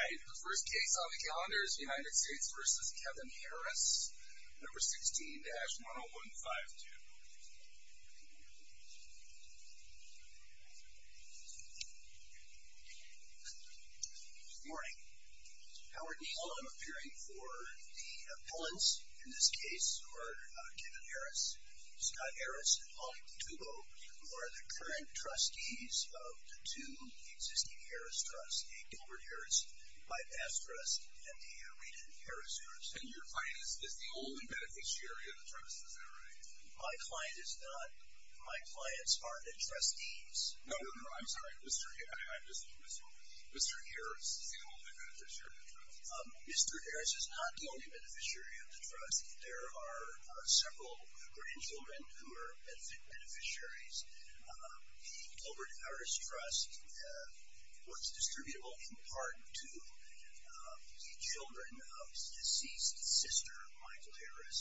The first case on the calendar is United States v. Kevin Harris, No. 16-10152. Good morning. Howard Neal, I'm appearing for the appellants in this case, who are Kevin Harris, Scott Harris, and Molly Pantubo, who are the current trustees of the two existing Harris Trusts, the Gilbert Harris Bipas Trust and the Reden Harris Trust. And your client is the only beneficiary of the trust, is that right? My client is not. My clients are the trustees. No, no, no. I'm sorry. Mr. Harris is the only beneficiary of the trust. Mr. Harris is not the only beneficiary of the trust. There are several grandchildren who are beneficiaries. The Gilbert Harris Trust was distributable in part to the children of his deceased sister, Michael Harris.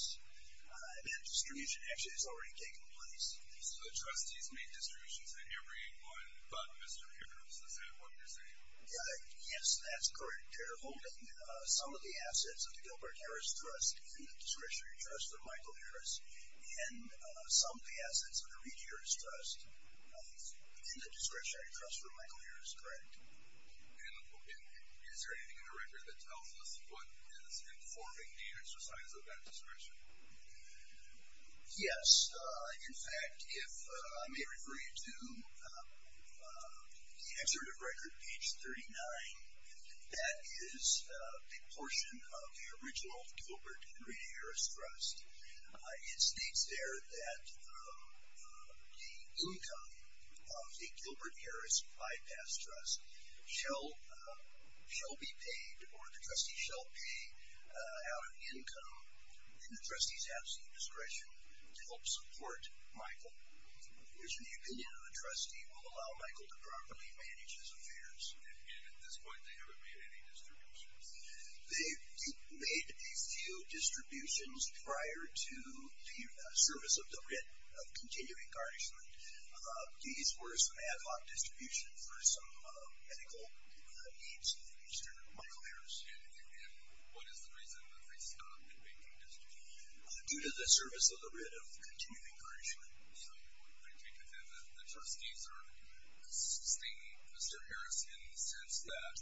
That distribution actually has already taken place. So the trustees make distributions to everyone but Mr. Harris. Is that what you're saying? Yes, that's correct. They're holding some of the assets of the Gilbert Harris Trust in the discretionary trust for Michael Harris and some of the assets of the Reden Harris Trust in the discretionary trust for Michael Harris, correct. And is there anything in the record that tells us what is informing the exercise of that discretion? Yes. In fact, if I may refer you to the excerpt of record page 39, that is a portion of the original Gilbert and Reden Harris Trust. It states there that the income of the Gilbert Harris Bypass Trust shall be paid, or the trustee shall pay out of income in the trustee's absolute discretion to help support Michael, which in the opinion of the trustee will allow Michael to properly manage his affairs. And at this point they haven't made any distributions? They made a few distributions prior to the service of the writ of continuing garnishment. These were some ad hoc distributions for some medical needs of Mr. Michael Harris. And what is the reason that they stopped making distributions? Due to the service of the writ of continuing garnishment. So, I take it then that the trustees are assisting Mr. Harris in the sense that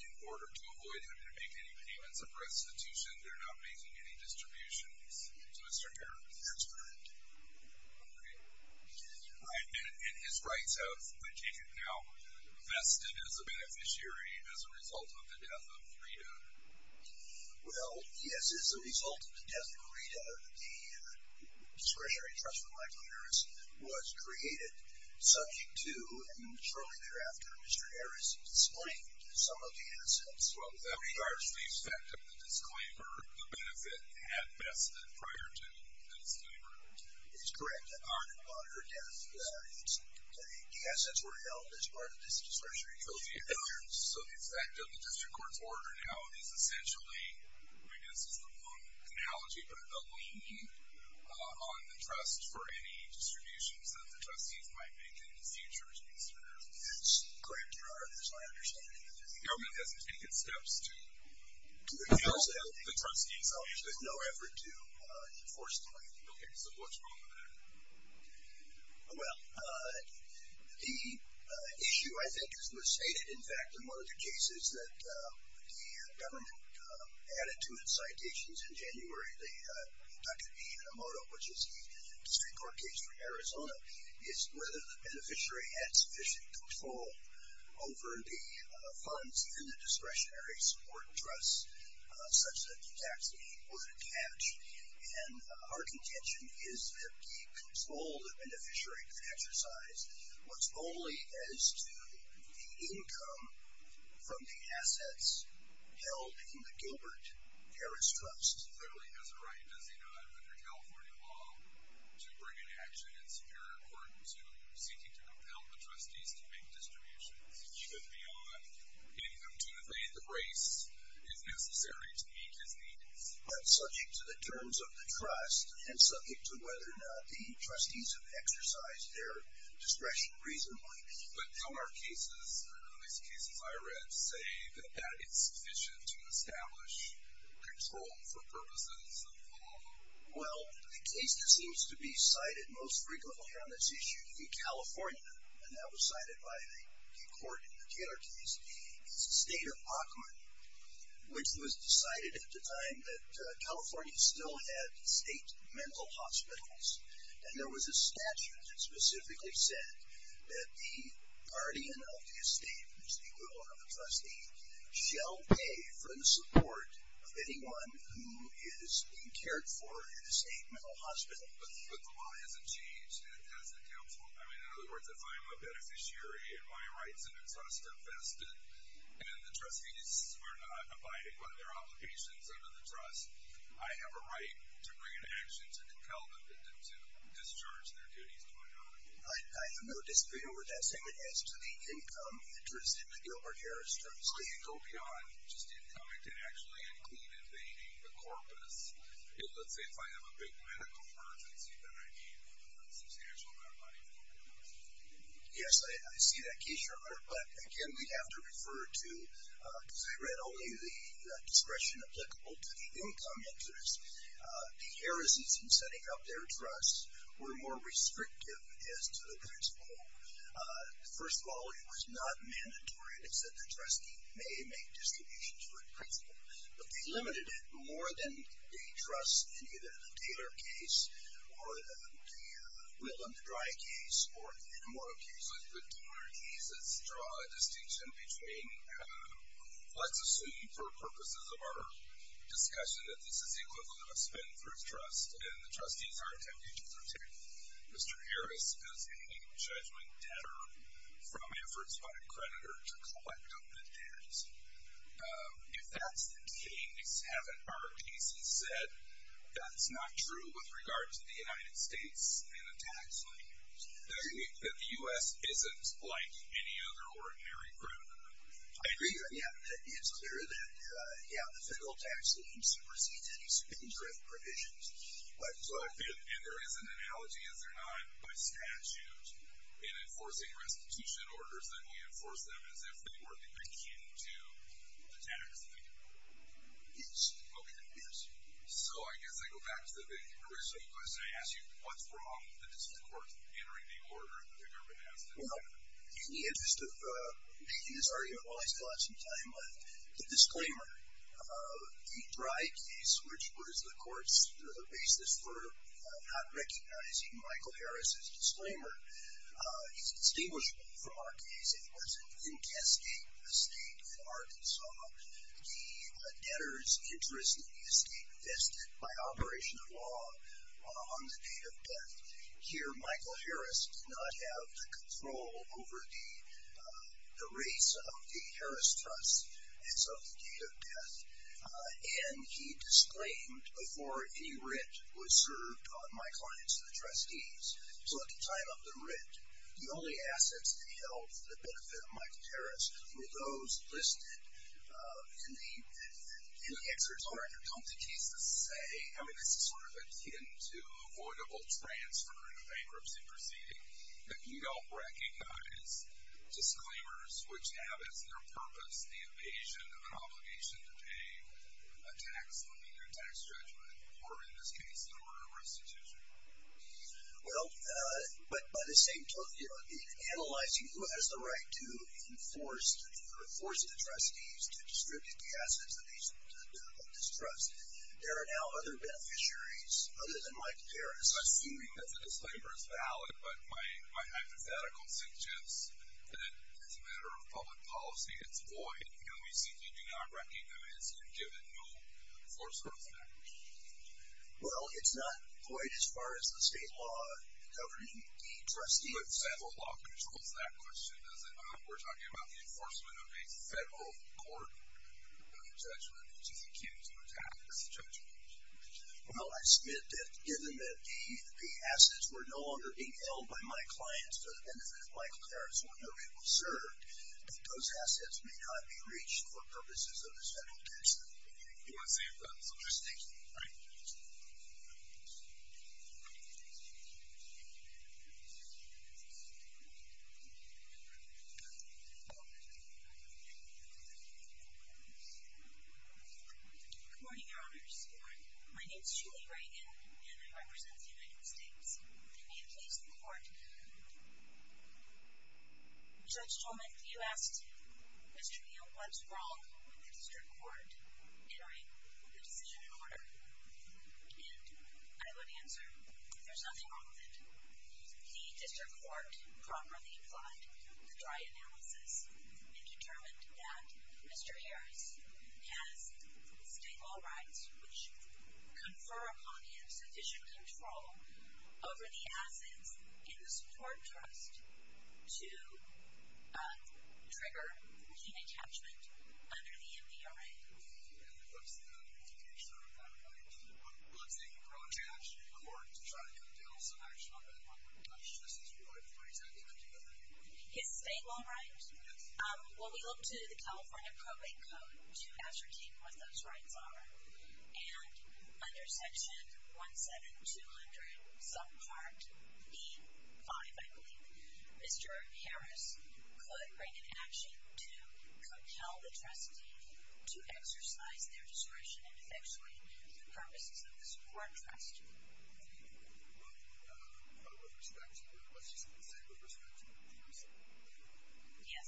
in order to avoid him having to make any payments of restitution, they're not making any distributions to Mr. Harris? That's correct. Okay. And his rights have, I take it now, vested as a beneficiary as a result of the death of Rita? Well, yes, as a result of the death of Rita, the discretionary trust for Michael Harris was created subject to, and shortly thereafter, Mr. Harris displaying some of the assets. Well, with regards to the effect of the disclaimer, the benefit had vested prior to the disclaimer. It is correct that on her death, the assets were held as part of this discretionary trustee. So, the effect of the district court's order now is essentially, I guess this is the wrong analogy, but a lien on the trust for any distributions that the trustees might make in the future to be served? That's correct, Your Honor. That's my understanding. The government hasn't taken steps to help the trustees? There's no effort to enforce the lien. Okay. So, what's wrong with that? Well, the issue, I think, as was stated, in fact, in one of the cases that the government added to its citations in January, the Dr. Ian Amoto, which is the district court case from Arizona, is whether the beneficiary had sufficient control over the funds in the discretionary support trust, such that the tax that he was attached. And our contention is that he controlled the beneficiary to exercise what's only as to the income from the assets held in the Gilbert-Harris trust. Clearly, he has a right, does he not, under California law, to bring an action in Superior Court seeking to compel the trustees to make distributions, should be on income to evade the brace is necessary to meet his needs. But subject to the terms of the trust and subject to whether or not the trustees have exercised their discretion reasonably. But some of our cases, at least cases I read, say that that is sufficient to establish control for purposes of law. Well, the case that seems to be cited most frequently on this issue in California, and that was cited by the court in the Taylor case, is the State of Occoquan, which was decided at the time that California still had state mental hospitals. And there was a statute that specifically said that the guardian of the estate, which is the equivalent of the trustee, shall pay for the support of anyone who is being cared for in a state mental hospital. But the law hasn't changed, and it hasn't helped. I mean, in other words, if I'm a beneficiary, and my rights and interests are vested, and the trustees are not abiding by their obligations under the trust, I have a right to bring an action to compel them to discharge their duties to my guardian. I have no disagreement with that statement. As to the income interest in the Gilbert Harris trustee. Well, you go beyond just income. It can actually include evading the corpus. Let's say if I have a big medical emergency that I need a substantial amount of money for. Yes, I see that case, Your Honor. But, again, we have to refer to, because I read only the discretion applicable to the income interest, the Harris's in setting up their trust were more restrictive as to the principal. First of all, it was not mandatory. It said the trustee may make distributions for the principal. But they limited it more than the trust in either the Taylor case or the Willem Dry case, or even more occasionally the Taylor case. Let's draw a distinction between, let's assume for purposes of our discussion, that this is the equivalent of a spin for a trust, and the trustees are attempting to protect Mr. Harris as a judgment debtor from efforts by a creditor to collect on the debt. If that's the case, haven't our cases said, that's not true with regard to the United States and the tax lenders, that the U.S. isn't like any other ordinary group? I agree. Yeah, it's clear that, yeah, the federal tax lenders supersede any spin-drift provisions. And there is an analogy, is there not, by statute in enforcing restitution orders, that we enforce them as if they were the key to the tax lenders? Yes. Okay. Yes. So I guess I go back to the original question I asked you. What's wrong with the District Court entering the order that they've never been asked to do? Well, in the interest of making this argument while I still have some time left, the disclaimer of the Dry case, which was the Court's basis for not recognizing Michael Harris's disclaimer, is distinguishable from our case. It wasn't in cascade with the State of Arkansas. The debtor's interest in the estate vested by operation of law on the date of death. Here Michael Harris did not have control over the rates of the Harris Trust as of the date of death, and he disclaimed before any rent was served on my clients, the trustees. So at the time of the rent, the only assets that held the benefit of Michael Harris were those listed in the excerpt. All right. Don't the cases say, I mean, this is sort of akin to avoidable transfer in a bankruptcy proceeding, that you don't recognize disclaimers which have as their purpose the evasion of an obligation to pay a tax loan or a tax judgment, or in this case the murder of restitution? Well, but by the same token, in analyzing who has the right to enforce or force the trustees to distribute the assets of this trust, there are now other beneficiaries other than Michael Harris. I'm assuming that the disclaimer is valid, but my hypothetical suggests that it's a matter of public policy. It's void. You know, we simply do not recognize him given no force or effect. Well, it's not void as far as the state law governing the trustees. But federal law controls that question, does it not? We're talking about the enforcement of a federal court judgment, which is akin to a tax judgment. Well, I submit that given that the assets were no longer being held by my clients to the benefit of Michael Harris, or no people served, that those assets may not be reached for purposes of a federal tax loan. You want to say something? So just think. All right. Good morning, Your Honors. Good morning. My name is Julie Reagan, and I represent the United States. May it please the court. Judge Tolman, you asked Mr. Neal what's wrong with the district court. Entering the decision in order, and I would answer there's nothing wrong with it. The district court properly applied the dry analysis and determined that Mr. Harris has state law rights which confer upon him sufficient control over the assets in the support trust to trigger the attachment under the NPRA. And what's the implication of that? I mean, what's the process in order to try to get a deal, some action on that? This is really a pretense, isn't it? His state law rights? Yes. Well, we look to the California Probate Code to ascertain what those rights are. And under section 17200 subpart E5, I believe, Mr. Harris could bring an action to compel the trustee to exercise their discretion in effectuating the purposes of the support trust. Thank you. Well, with respect to that, let's just say with respect to the NPRA. Yes.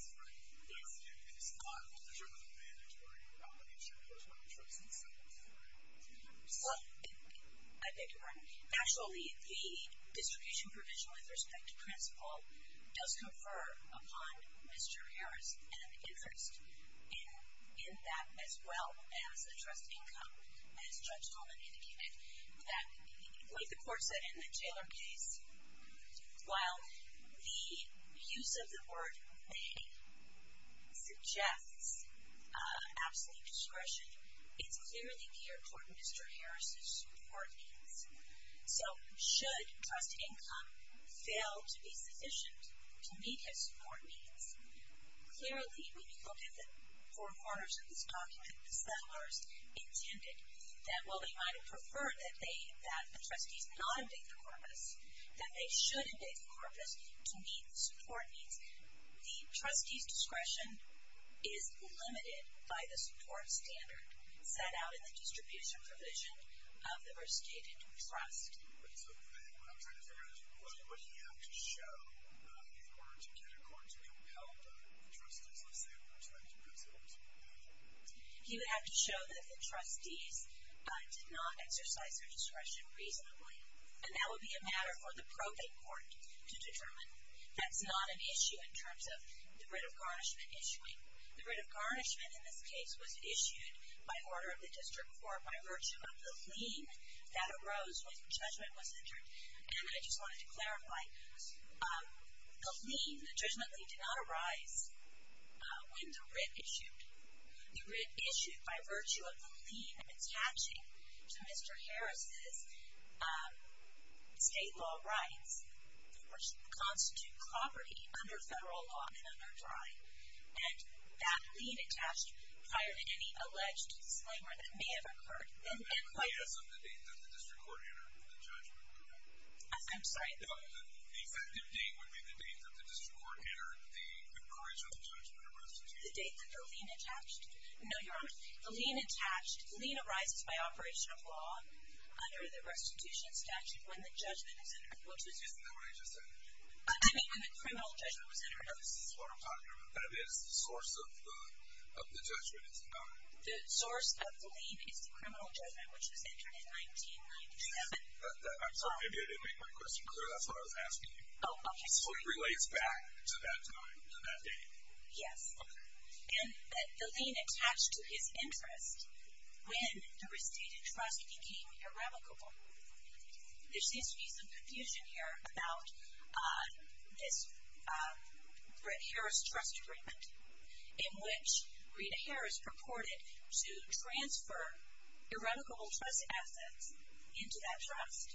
It's not a measure of the mandatory property, it's a measure of the choice of the subpart E5. Well, I beg your pardon. Actually, the distribution provision with respect to principle does confer upon Mr. Harris an interest in that as well as a trust income, as Judge Coleman indicated. That, like the court said in the Taylor case, while the use of the word may suggests absolute discretion, it's clearly geared toward Mr. Harris' support needs. So should trust income fail to be sufficient to meet his support needs? Clearly, when you look at the four corners of this document, the settlers intended that, well, you might have preferred that the trustees not evict the corpus, that they should evict the corpus to meet the support needs. The trustee's discretion is limited by the support standard set out in the distribution provision of the restated trust. So then what I'm trying to figure out is what would he have to show in order to get a court to compel the trustees, let's say, with respect to principles? He would have to show that the trustees did not exercise their discretion reasonably. And that would be a matter for the probate court to determine. That's not an issue in terms of the writ of garnishment issuing. The writ of garnishment in this case was issued by order of the district court by virtue of the lien that arose when judgment was entered. And I just wanted to clarify, the lien, the judgment lien did not arise when the writ issued. The writ issued by virtue of the lien attaching to Mr. Harris' state law rights, which constitute property under federal law and under dry. And that lien attached prior to any alleged slander that may have occurred. The date that the district court entered the judgment. I'm sorry. The effective date would be the date that the district court entered the original judgment of restitution. The date that the lien attached? No, you're wrong. The lien attached, the lien arises by operation of law under the restitution statute when the judgment is entered. Isn't that what I just said? I mean when the criminal judgment was entered. This is what I'm talking about. But it is the source of the judgment. The source of the lien is the criminal judgment which was entered in 1997. I'm sorry, maybe I didn't make my question clear. That's what I was asking you. Oh, okay. So it relates back to that time, to that date. Yes. Okay. And the lien attached to his interest when the restated trust became irrevocable. There seems to be some confusion here about this Harris trust agreement in which Rita Harris purported to transfer irrevocable trust assets into that trust.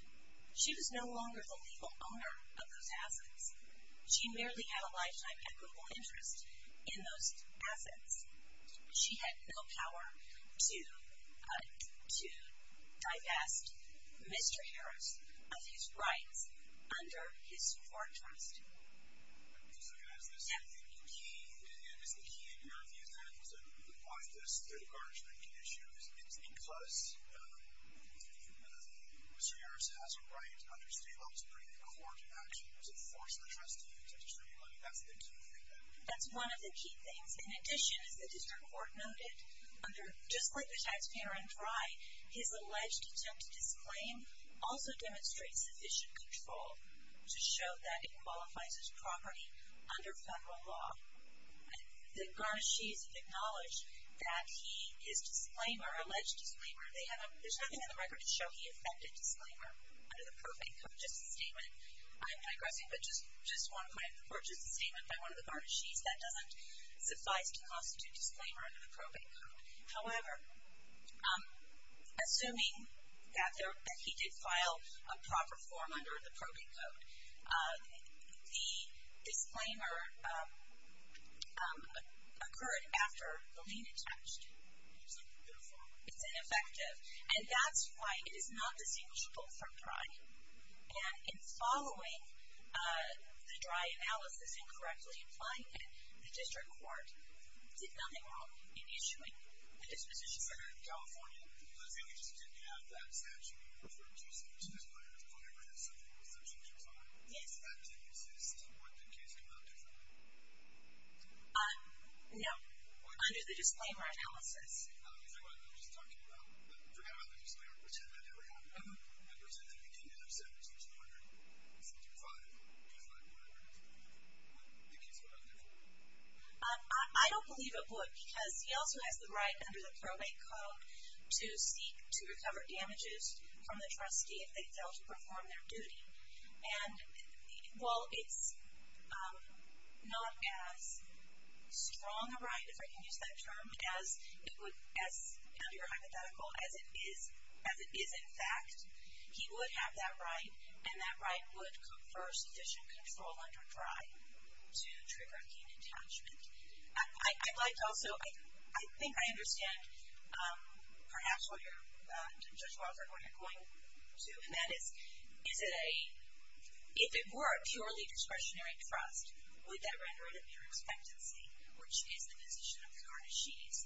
She was no longer the legal owner of those assets. She merely had a lifetime equitable interest in those assets. She had no power to divest Mr. Harris of his rights under his court trust. I'm just looking at this. The key, and is the key, in your view, to apply this to the garnishment issue is because Mr. Harris has a right under state law to bring the court back to the force of the trustee to distribute money. That's the key thing. That's one of the key things. In addition, as the district court noted, just like the taxpayer on dry, his alleged attempt to disclaim also demonstrates sufficient control to show that it qualifies as property under federal law. The garnishees acknowledge that he, his disclaimer, alleged disclaimer, they have a, there's nothing in the record to show he offended disclaimer under the probate code. Just a statement. I'm digressing, but just one point. Or just a statement by one of the garnishees that doesn't suffice to constitute disclaimer under the probate code. However, assuming that there, that he did file a proper form under the probate code, the disclaimer occurred after the lien attached. It's ineffective. And that's why it is not distinguishable from dry. And in following the dry analysis and correctly applying it, the district court did nothing wrong in issuing the disposition letter in California. We just didn't have that statute. We referred to it as a disclaimer. It's probably written in something with their signatures on it. Yes. That didn't exist. What did the case come out differently? No. Under the disclaimer analysis. Is that what I'm just talking about? Forgot about the disclaimer. Pretend that never happened. Pretend that it did. I don't believe it would, because he also has the right under the probate code to seek to recover damages from the trustee if they fail to perform their duty. And while it's not as strong a right, if I can use that term, as it would, as under your hypothetical, as it is in fact, he would have that right and that right would confer sufficient control under dry to trigger a gain of attachment. I'd like to also, I think I understand perhaps what you're, Judge Walter, what you're going to, and that is, is it a, if it were a purely discretionary trust, would that render it a mere expectancy, which is the position of the artichutes,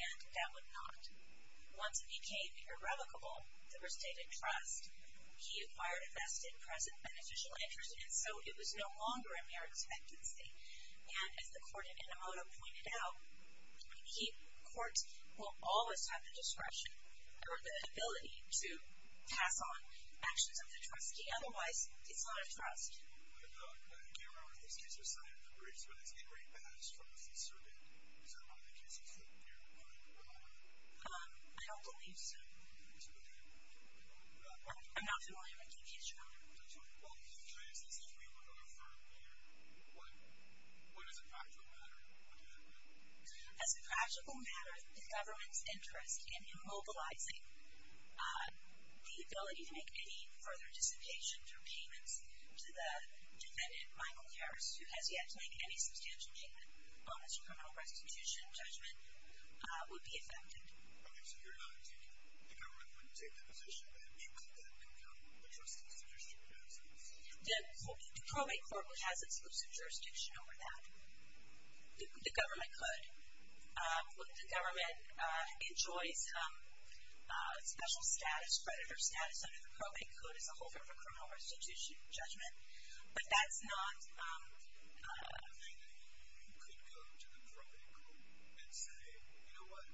and that would not, once it became irrevocable, to restate a trust. He acquired a vested, present, beneficial interest, and so it was no longer a mere expectancy. And as the court in Enomoto pointed out, he, courts will always have the discretion or the ability to pass on actions of the trustee. Otherwise, it's not a trust. The camera on his case was not in the briefs, but it's in Ray Batt's trust. Is that one of the cases that you're relying on? I don't believe so. I'm not familiar with the case, Your Honor. Well, if the case is, if we were to refer here, what is a practical matter? What would that be? As a practical matter, the government's interest in immobilizing the ability to make any further dissipation for payments to the defendant, Michael Harris, who has yet to make any substantial payment on his criminal restitution judgment would be affected. Okay, so you're not taking, the government wouldn't take the position that he could then become the trustee's fiduciary adjudicator? The probate court would have exclusive jurisdiction over that. The government could. The government enjoys special status, creditor status, under the probate code, as a holder of a criminal restitution judgment. But that's not. You could go to the probate court and say, you know what,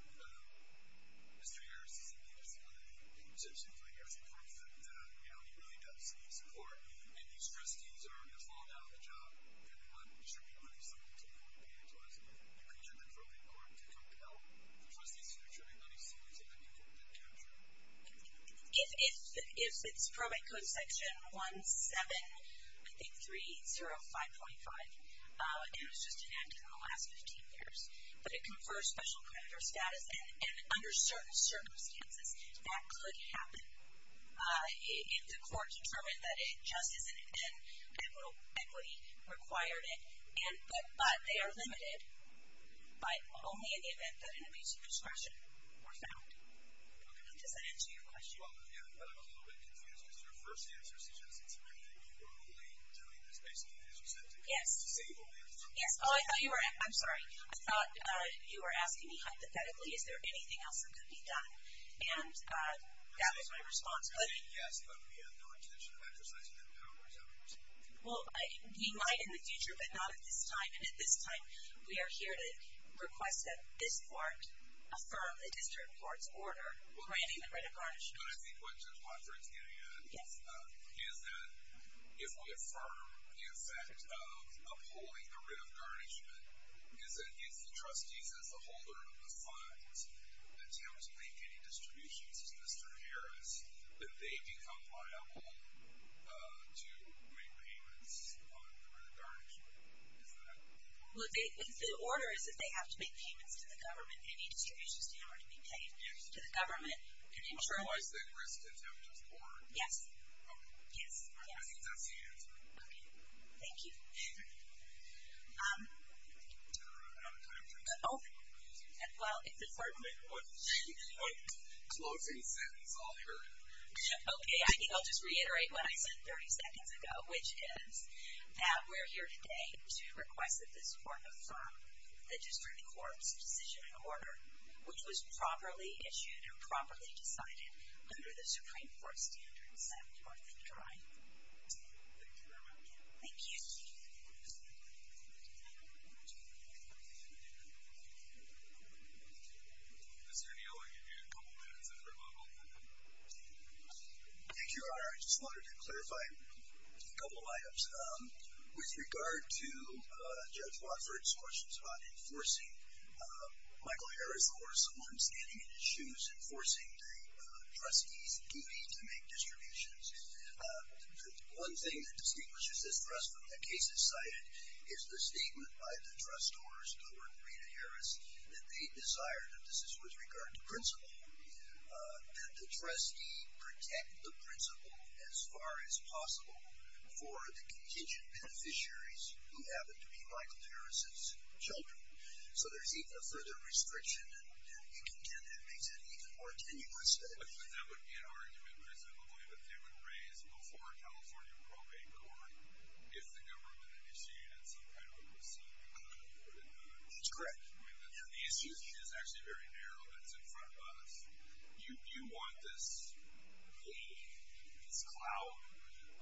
Mr. Harris, you seem to be receiving a substantial amount of your support, and, you know, he really does need support, and these trustees are going to fall down the job, and they want to distribute money, so they can pay it to us. You could use the probate court to compel the trustee's fiduciary monies to use it. I mean, that would be helpful. If it's probate code section 17, I think, 305.5, and it was just enacted in the last 15 years, but it confers special creditor status, and under certain circumstances, that could happen. If the court determined that it just isn't, then capital equity required it. But they are limited, but only in the event that an abuse of discretion were found. Does that answer your question? Well, yeah, but I'm a little bit confused. Because your first answer suggests it's a good thing. You were only doing this based on his reception. Yes. It's a stable method. Yes. Oh, I'm sorry. I thought you were asking me hypothetically, is there anything else that could be done? And that was my response. Yes, but we have no intention of exercising that power as ever. Well, we might in the future, but not at this time. And at this time, we are here to request that this court affirm the district court's order granting the writ of garnishment. But I think what's in my brain is getting at is that if we affirm the effect of upholding the writ of garnishment, is that if the trustees, as the holder of the fines, attempt to make any distributions to Mr. Harris, that they become liable to make payments on the writ of garnishment. Is that it? Well, the order is that they have to make payments to the government. Any distributions to him are to be paid to the government. Can you internalize that risk to attempt this order? Yes. Okay. I think that's the answer. Okay. Thank you. I'm out of time. Oh, well, if the court would make one closing sentence, I'll hear it. Okay. I think I'll just reiterate what I said 30 seconds ago, which is that we're here today to request that this court affirm the district court's decision and order, which was properly issued and properly decided under the Supreme Court Thank you very much. Thank you. Mr. Neal, I'll give you a couple minutes if we're able. Thank you, Your Honor. I just wanted to clarify a couple items. With regard to Judge Wofford's questions about enforcing, Michael Harris, of course, the one standing in his shoes, enforcing the trustee's duty to make distributions. The one thing that distinguishes this for us from the cases cited is the statement by the trustors, Governor Rita Harris, that they desire, and this is with regard to principle, that the trustee protect the principle as far as possible for the contingent beneficiaries who happen to be Michael Harris's children. So there's even a further restriction, and you contend that makes it even more tenuous. But that would be an argument, presumably, that they would raise before a California probate court if the government initiated some kind of a receipt. That's correct. The issue is actually very narrow. That's in front of us. You want this wave, this cloud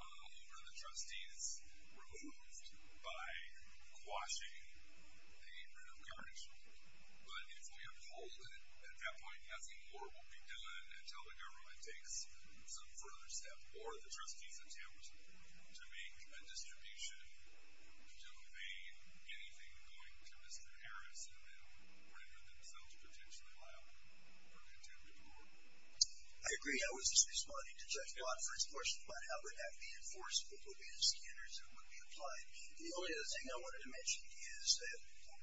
over the trustees removed by quashing the At that point, nothing more will be done until the government takes some further steps or the trustees attempt to make a distribution to evade anything going to Mr. Harris in the middle, or to hurt themselves, potentially, by our contingent of the board. I agree. I was just responding to Judge Wofford's question about how would that be enforceable? What would be the standards that would be applied? The only other thing I wanted to mention is that, well, after Gilbert Harris died, Rita Harris was the sole beneficiary of the trust.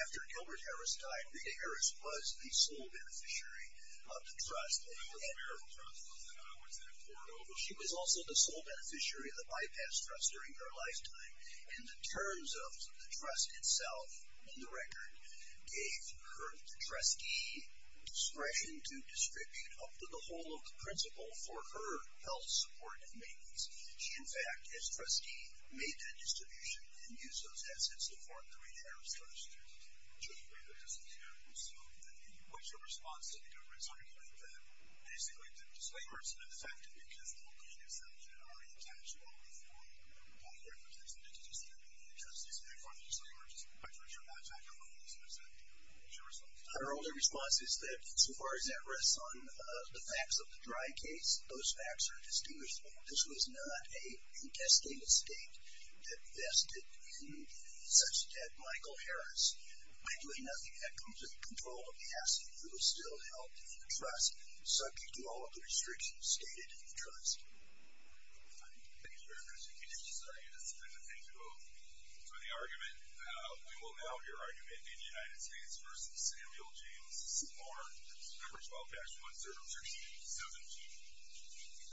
She was also the sole beneficiary of the bypass trust during her lifetime. And the terms of the trust itself in the record gave her trustee discretion to distribute up to the whole of the principal for her health support and maintenance. She, in fact, as trustee, made that distribution and used those assets to harm Rita Harris. Judge Wofford doesn't care. So, what's your response to the government's argument that basically the disclaimer is ineffective because the whole contingent of the board already attached to all of the board. I'm not referring to this. It's just that the trustee is paying for the disclaimer, just by virtue of that fact alone. So, what's your response to that? Our only response is that so far as that rests on the facts of the dry case, those facts are distinguishable. This was not a contested mistake that vested in such dead Michael Harris. We do nothing that comes with the control of the asset. It was still held in the trust, subject to all of the restrictions stated in the trust. Thank you very much. I'm going to take a vote. For the argument, we will now hear argument in the United States versus Samuel James Simard, number 12-1-0-13-17.